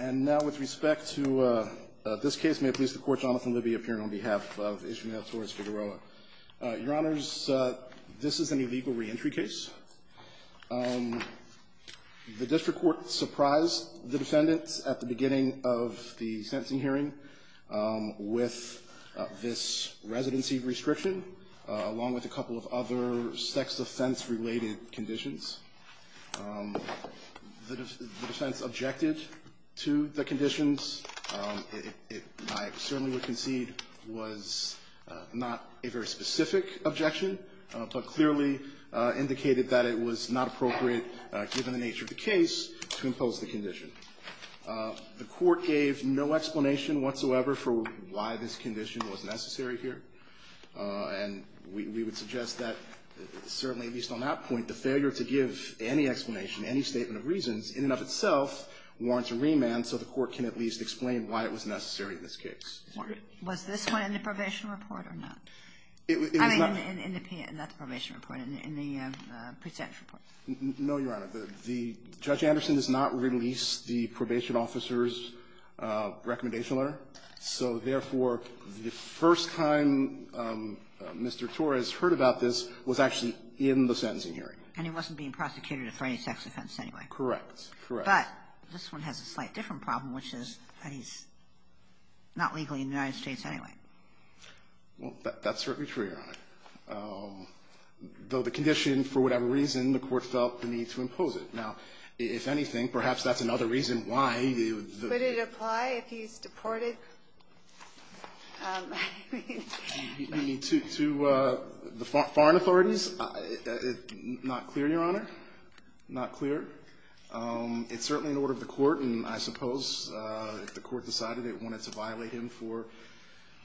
And now, with respect to this case, may I please the Court, Jonathan Libby, appearing on behalf of Ismael Torres-Figueroa. Your Honors, this is an illegal reentry case. The district court surprised the defendants at the beginning of the sentencing hearing with this residency restriction, along with a couple of other sex-offense-related conditions. The defense objected to the conditions. It, I certainly would concede, was not a very specific objection, but clearly indicated that it was not appropriate, given the nature of the case, to impose the condition. The court gave no explanation whatsoever for why this condition was necessary here, and we would suggest that, certainly, at least on that point, the failure to give any explanation, any statement of reasons, in and of itself, warrants a remand so the Court can at least explain why it was necessary in this case. Was this one in the probation report or not? I mean, in the presentation report. No, Your Honor. The Judge Anderson does not release the probation officer's recommendation letter, so, therefore, the first time Mr. Torres heard about this was actually in the sentencing hearing. And he wasn't being prosecuted for any sex offense anyway. Correct. Correct. But this one has a slight different problem, which is that he's not legally in the United States anyway. Well, that's certainly true, Your Honor. Though the condition, for whatever reason, the Court felt the need to impose it. Now, if anything, perhaps that's another reason why the ---- Would it apply if he's deported? You mean to the foreign authorities? Not clear, Your Honor. Not clear. It's certainly in order of the Court, and I suppose if the Court decided it wanted to violate him for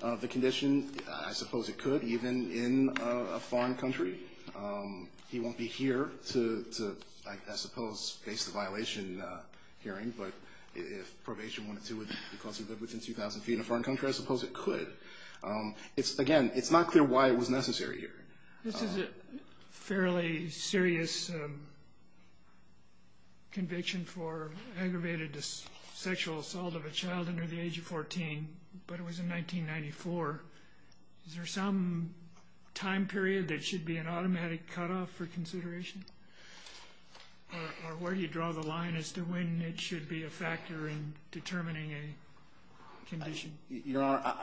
the condition, I suppose it could, even in a foreign country. He won't be here to, I suppose, face the violation hearing, but if probation wanted to, because he lived within 2,000 feet in a foreign country, I suppose it could. Again, it's not clear why it was necessary here. This is a fairly serious conviction for aggravated sexual assault of a child under the age of 14, but it was in 1994. Is there some time period that should be an automatic cutoff for consideration, or where do you draw the line as to when it should be a factor in determining a condition? Your Honor,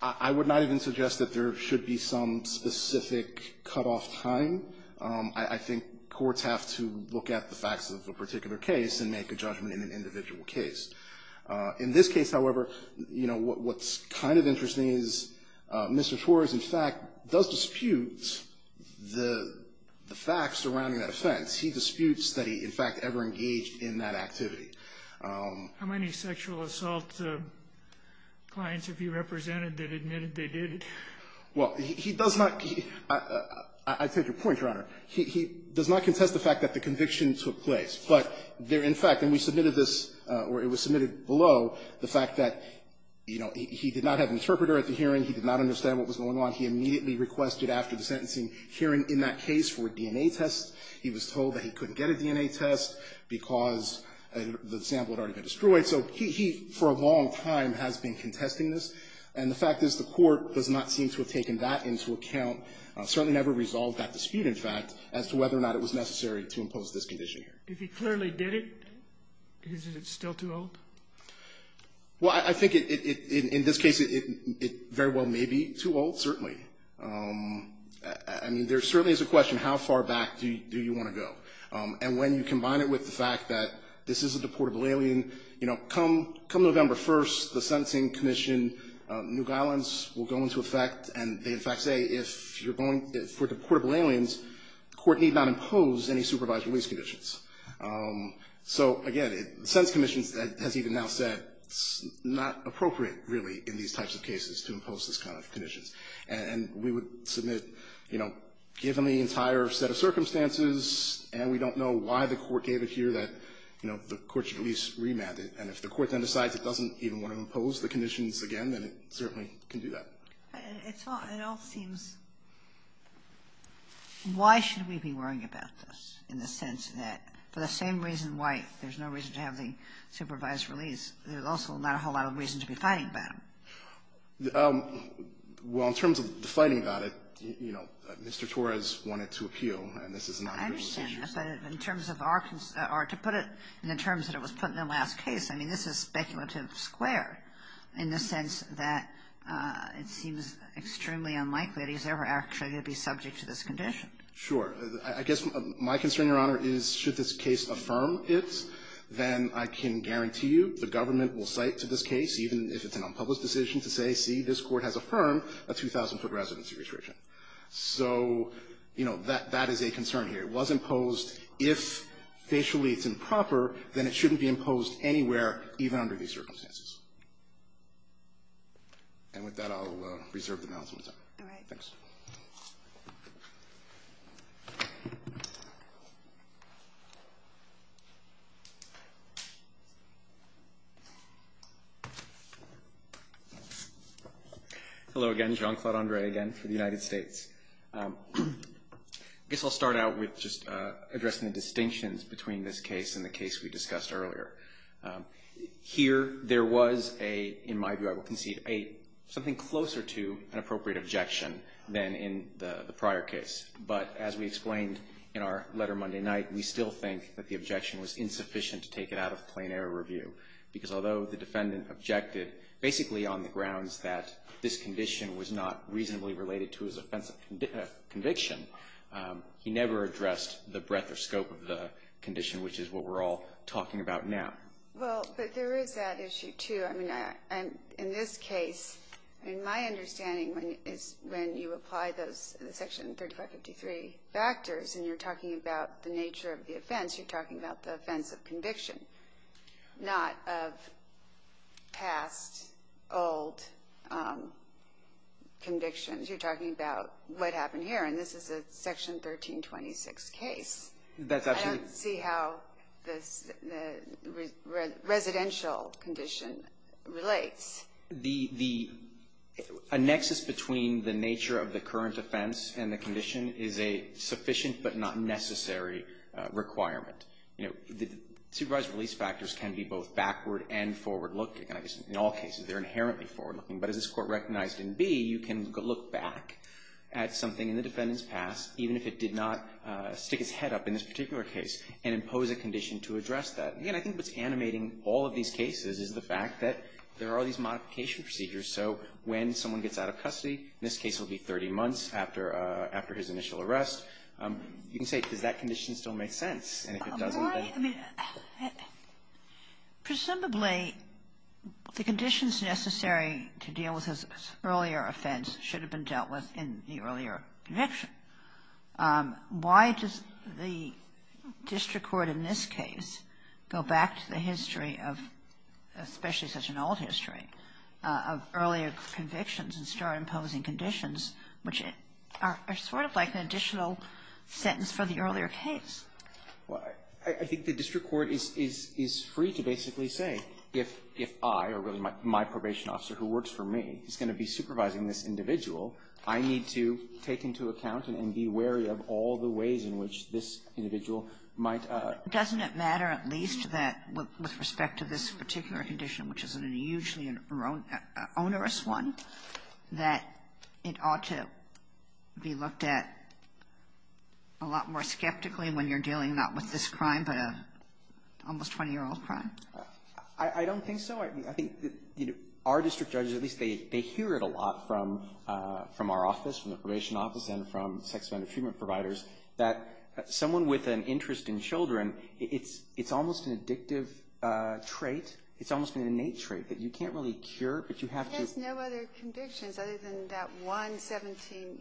I would not even suggest that there should be some specific cutoff time. I think courts have to look at the facts of a particular case and make a judgment in an individual case. In this case, however, you know, what's kind of interesting is Mr. Schwartz, in fact, does dispute the facts surrounding that offense. He disputes that he, in fact, ever engaged in that activity. How many sexual assault clients have you represented that admitted they did it? Well, he does not – I take your point, Your Honor. He does not contest the fact that the conviction took place. But there, in fact, and we submitted this, or it was submitted below, the fact that, you know, he did not have an interpreter at the hearing. He did not understand what was going on. He immediately requested after the sentencing hearing in that case for a DNA test. He was told that he couldn't get a DNA test because the sample had already been destroyed. So he, for a long time, has been contesting this. And the fact is the Court does not seem to have taken that into account, certainly never resolved that dispute, in fact, as to whether or not it was necessary to impose this condition here. If he clearly did it, is it still too old? Well, I think, in this case, it very well may be too old, certainly. I mean, there certainly is a question, how far back do you want to go? And when you combine it with the fact that this is a deportable alien, you know, come November 1st, the Sentencing Commission, New Orleans, will go into effect, and they, in fact, say if you're going – for deportable aliens, the Court need not impose any supervised release conditions. So, again, the Sentencing Commission has even now said it's not appropriate, really, in these types of cases to impose this kind of conditions. And we would submit, you know, given the entire set of circumstances, and we don't know why the Court gave it here, that, you know, the Court should at least remand it. And if the Court then decides it doesn't even want to impose the conditions again, then it certainly can do that. It all seems – why should we be worrying about this, in the sense that, for the same reason why there's no reason to have the supervised release, there's also not a whole lot of reason to be fighting about it? Well, in terms of the fighting about it, you know, Mr. Torres wanted to appeal, and this is not an individual decision. I understand. But in terms of our – or to put it in the terms that it was put in the last case, I mean, this is speculative square in the sense that it seems extremely unlikely that he's ever actually going to be subject to this condition. Sure. I guess my concern, Your Honor, is should this case affirm it, then I can guarantee you the government will cite to this case, even if it's an unpublished decision, to say, see, this Court has affirmed a 2,000-foot residency restriction. So, you know, that is a concern here. It was imposed. If, facially, it's improper, then it shouldn't be imposed anywhere, even under these circumstances. And with that, I'll reserve the balance of my time. All right. Thanks. Hello again. Jean-Claude Andre, again, for the United States. I guess I'll start out with just addressing the distinctions between this case and the case we discussed earlier. Here, there was a, in my view, I will concede, something closer to an appropriate objection than in the prior case. But as we explained in our letter Monday night, we still think that the objection was insufficient to take it out of plain error review, because although the defendant objected basically on the grounds that this condition was not reasonably related to his offense of conviction, he never addressed the breadth or scope of the condition, which is what we're all talking about now. Well, but there is that issue, too. I mean, in this case, in my understanding, when you apply those Section 3553 factors, and you're talking about the nature of the offense, you're talking about the offense of conviction, not of past, old convictions. You're talking about what happened here. And this is a Section 1326 case. I don't see how the residential condition relates. The nexus between the nature of the current offense and the condition is a sufficient but not necessary requirement. Supervised release factors can be both backward and forward looking. In all cases, they're inherently forward looking. But as this Court recognized in B, you can look back at something in the defendant's past, even if it did not stick its head up in this particular case, and impose a condition to address that. Again, I think what's animating all of these cases is the fact that there are these modification procedures. So when someone gets out of custody, in this case it will be 30 months after his initial arrest, you can say, does that condition still make sense? And if it doesn't, then... Presumably, the conditions necessary to deal with his earlier offense should have been dealt with in the earlier conviction. Why does the district court in this case go back to the history of, especially such an old history, of earlier convictions and start imposing conditions, which are sort of like an additional sentence for the earlier case? Well, I think the district court is free to basically say, if I, or really my probation officer who works for me, is going to be supervising this individual, I need to take into account and be wary of all the ways in which this individual might... Doesn't it matter at least that with respect to this particular condition, which is a hugely onerous one, that it ought to be looked at a lot more skeptically when you're dealing not with this crime, but an almost 20-year-old crime? I don't think so. I think our district judges, at least they hear it a lot from our office, from the probation office, and from sex offender treatment providers, that someone with an interest in children, it's almost an addictive trait. It's almost an innate trait that you can't really cure, but you have to... He has no other convictions other than that one 17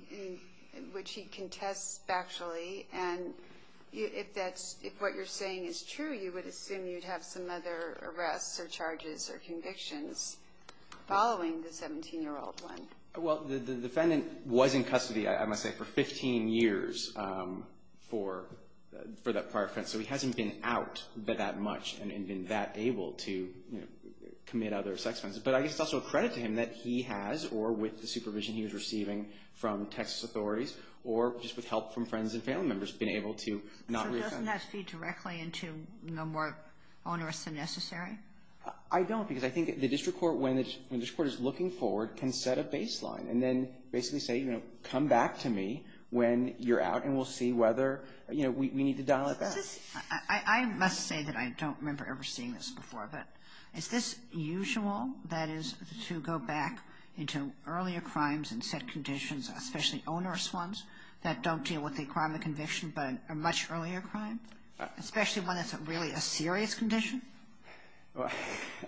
in which he contests factually, and if what you're saying is true, you would assume you'd have some other arrests or charges or convictions following the 17-year-old one. Well, the defendant was in custody, I must say, for 15 years for that prior offense, so he hasn't been out that much and been that able to commit other sex offenses. But I guess it's also a credit to him that he has, or with the supervision he was receiving from Texas authorities or just with help from friends and family members, been able to not reoffend. So doesn't that feed directly into no more onerous than necessary? I don't, because I think the district court, when the district court is looking forward, can set a baseline and then basically say, come back to me when you're out and we'll see whether we need to dial it back. I must say that I don't remember ever seeing this before, but is this usual, that is, to go back into earlier crimes and set conditions, especially onerous ones that don't deal with the crime of conviction but are much earlier crimes, especially one that's really a serious condition?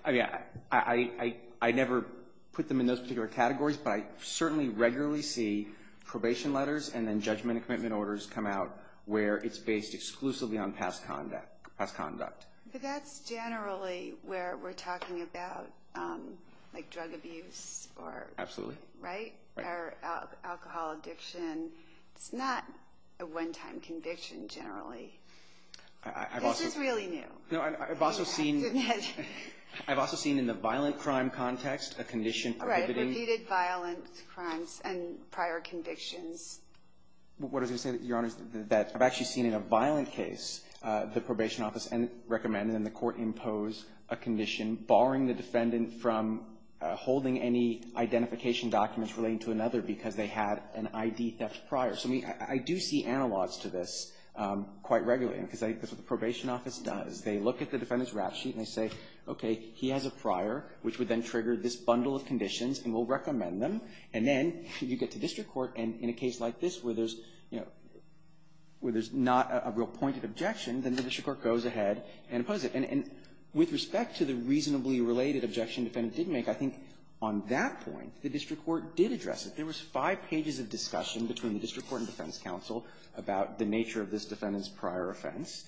I never put them in those particular categories, but I certainly regularly see probation letters and then judgment and commitment orders come out where it's based exclusively on past conduct. But that's generally where we're talking about, like, drug abuse or alcohol addiction. It's not a one-time conviction, generally. This is really new. I've also seen in the violent crime context a condition prohibiting repeated violent crimes and prior convictions. What I was going to say, Your Honors, that I've actually seen in a violent case the probation office recommends and the court impose a condition barring the defendant from holding any identification documents relating to another because they had an I.D. theft prior. So I do see analogs to this quite regularly because I think that's what the probation office does. They look at the defendant's rap sheet and they say, okay, he has a prior, which would then trigger this bundle of conditions, and we'll recommend them. And then you get to district court, and in a case like this where there's, you know, where there's not a real pointed objection, then the district court goes ahead and imposes it. And with respect to the reasonably related objection the defendant did make, I think on that point the district court did address it. There was five pages of discussion between the district court and defense counsel about the nature of this defendant's prior offense.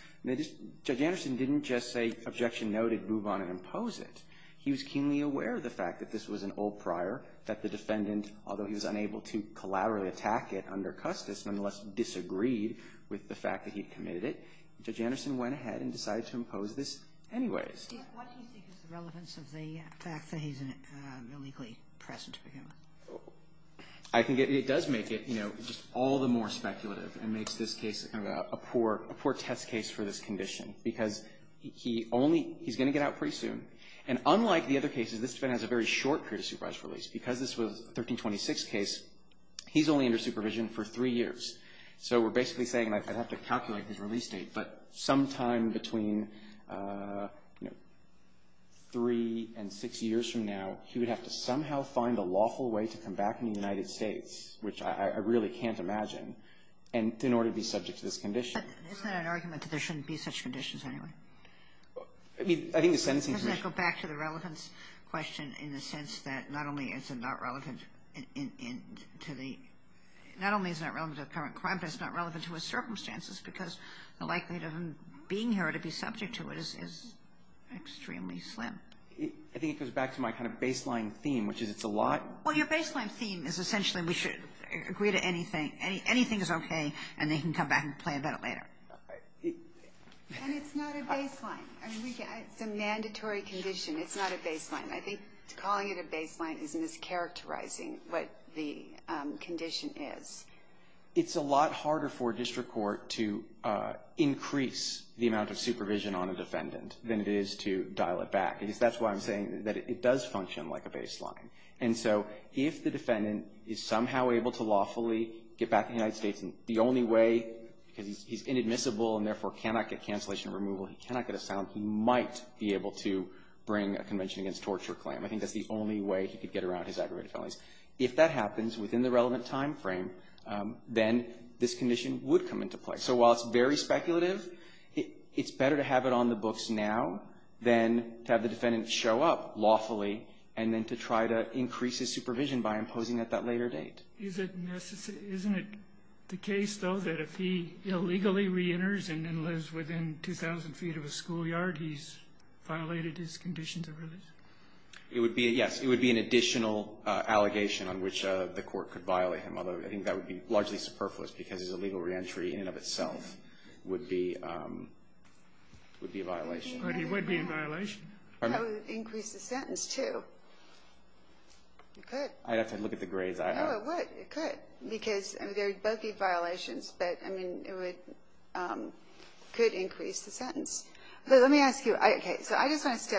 Judge Anderson didn't just say, objection noted, move on and impose it. He was keenly aware of the fact that this was an old prior, that the defendant, although he was unable to collaboratively attack it under Custis, none the less disagreed with the fact that he committed it. And Judge Anderson went ahead and decided to impose this anyways. Kagan. Sotomayor. Sotomayor. Kagan. Kagan. Kagan. Kagan. Kagan. Kagan. Kagan. Kagan. Kagan. Kagan. Kagan. Kagan. Kagan. Kagan. Kagan. And unlike the other cases, this defendant has a very short period of supervised release. Because this was a 1326 case, he's only under supervision for three years. So we're basically saying, like, I'd have to calculate his release date, but sometime between, you know, three and six years from now, he would have to somehow find a lawful way to come back in the United States, which I really can't imagine, in order to be subject to this condition. Kagan. Kagan. Kagan. is the only way he could get around his aggravated felonies. If that happens within the relevant timeframe, then this condition would come into play. So while it's very speculative, it's better to have it on the books now than to have the defendant show up lawfully, and then to try to increase his supervision by imposing at Kennedy. Kennedy. Kennedy. Kennedy. Kennedy. Kennedy. Kennedy. Kennedy. Kennedy. Is it necessary — isn't it the case though, that if he illegally re-enters in and of itself, it would be a violation? It would be, yes. It would be an additional allegation on which the court could violate him. Although I think that would be largely superfluous, because his illegal re-entry in and of itself would be a violation. But he would be in violation. Pardon me? That would increase the sentence, too. It could. I'd have to look at the grades I have. No, it would. It could. Because there would both be violations, but, I mean, it would — could increase the sentence. Yeah, I agree. Yes. So, I don't know that I could ever discuss that with the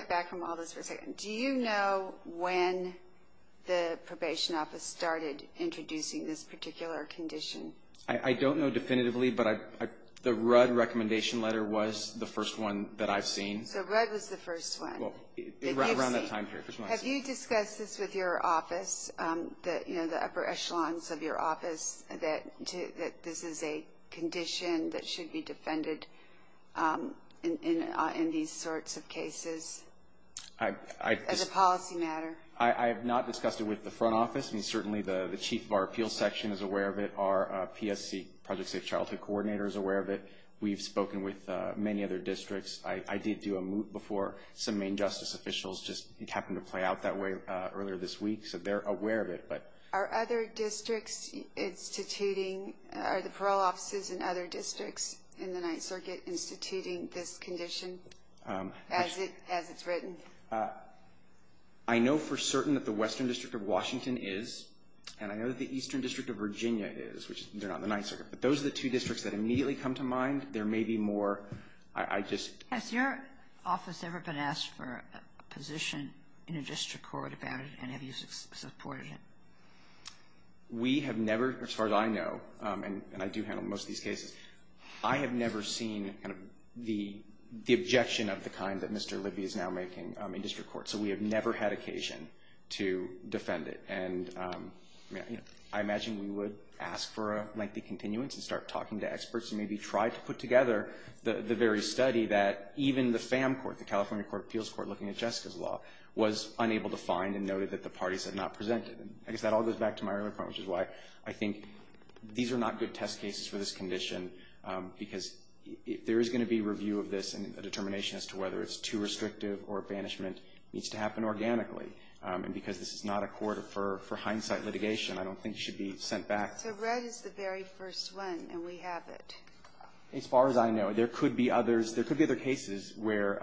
front office. I mean, certainly the chief of our appeal section is aware of it. Our PSC, Project Safe Childhood Coordinator, is aware of it. We've spoken with many other districts. I did do a moot before. Some main justice officials just — it happened to play out that way earlier this week. So, they're aware of it, but — Are other districts instituting — are the parole offices and other districts in the I know for certain that the Western District of Washington is, and I know that the Eastern District of Virginia is, which they're not in the Ninth Circuit. But those are the two districts that immediately come to mind. There may be more. I just — Has your office ever been asked for a position in a district court about it, and have you supported it? We have never, as far as I know, and I do handle most of these cases, I have never seen kind of the objection of the kind that Mr. Libby is now making in district court. So, we have never had occasion to defend it. And I imagine we would ask for a lengthy continuance and start talking to experts and maybe try to put together the very study that even the FAM Court, the California Court of Appeals Court, looking at Jessica's law, was unable to find and noted that the parties had not presented. I guess that all goes back to my earlier point, which is why I think these are not good test cases for this condition, because if there is going to be review of this and a determination as to whether it's too restrictive or a banishment, it needs to happen organically. And because this is not a court for hindsight litigation, I don't think it should be sent back. So Red is the very first one, and we have it. As far as I know, there could be others. There could be other cases where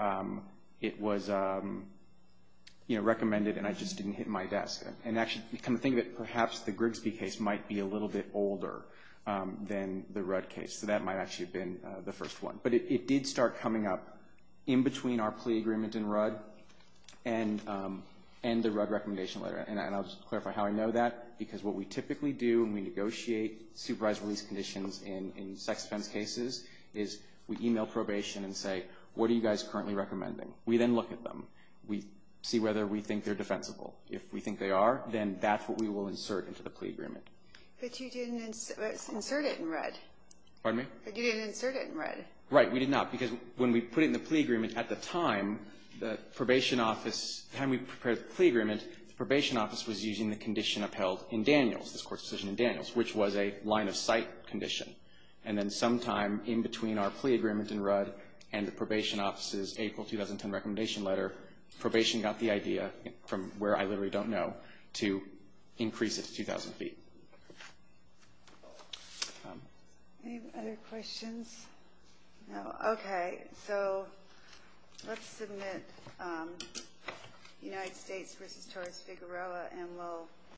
it was, you know, recommended and I just didn't hit my desk. And actually, come to think of it, perhaps the Grigsby case might be a little bit older than the Rudd case. So that might actually have been the first one. But it did start coming up in between our plea agreement in Rudd and the Rudd recommendation letter. And I'll just clarify how I know that, because what we typically do when we negotiate supervised release conditions in sex offense cases is we email probation and say, what are you guys currently recommending? We then look at them. We see whether we think they're defensible. If we think they are, then that's what we will insert into the plea agreement. But you didn't insert it in Rudd. Pardon me? But you didn't insert it in Rudd. Right. We did not, because when we put it in the plea agreement, at the time, the probation office, the time we prepared the plea agreement, the probation office was using the condition upheld in Daniels, this court's decision in Daniels, which was a line-of-sight condition. And then sometime in between our plea agreement in Rudd and the probation office's April 2010 recommendation letter, probation got the idea, from where I literally don't know, to increase it to 2,000 feet. Any other questions? No. Okay. So let's submit United States v. Torres-Figueroa, and we'll...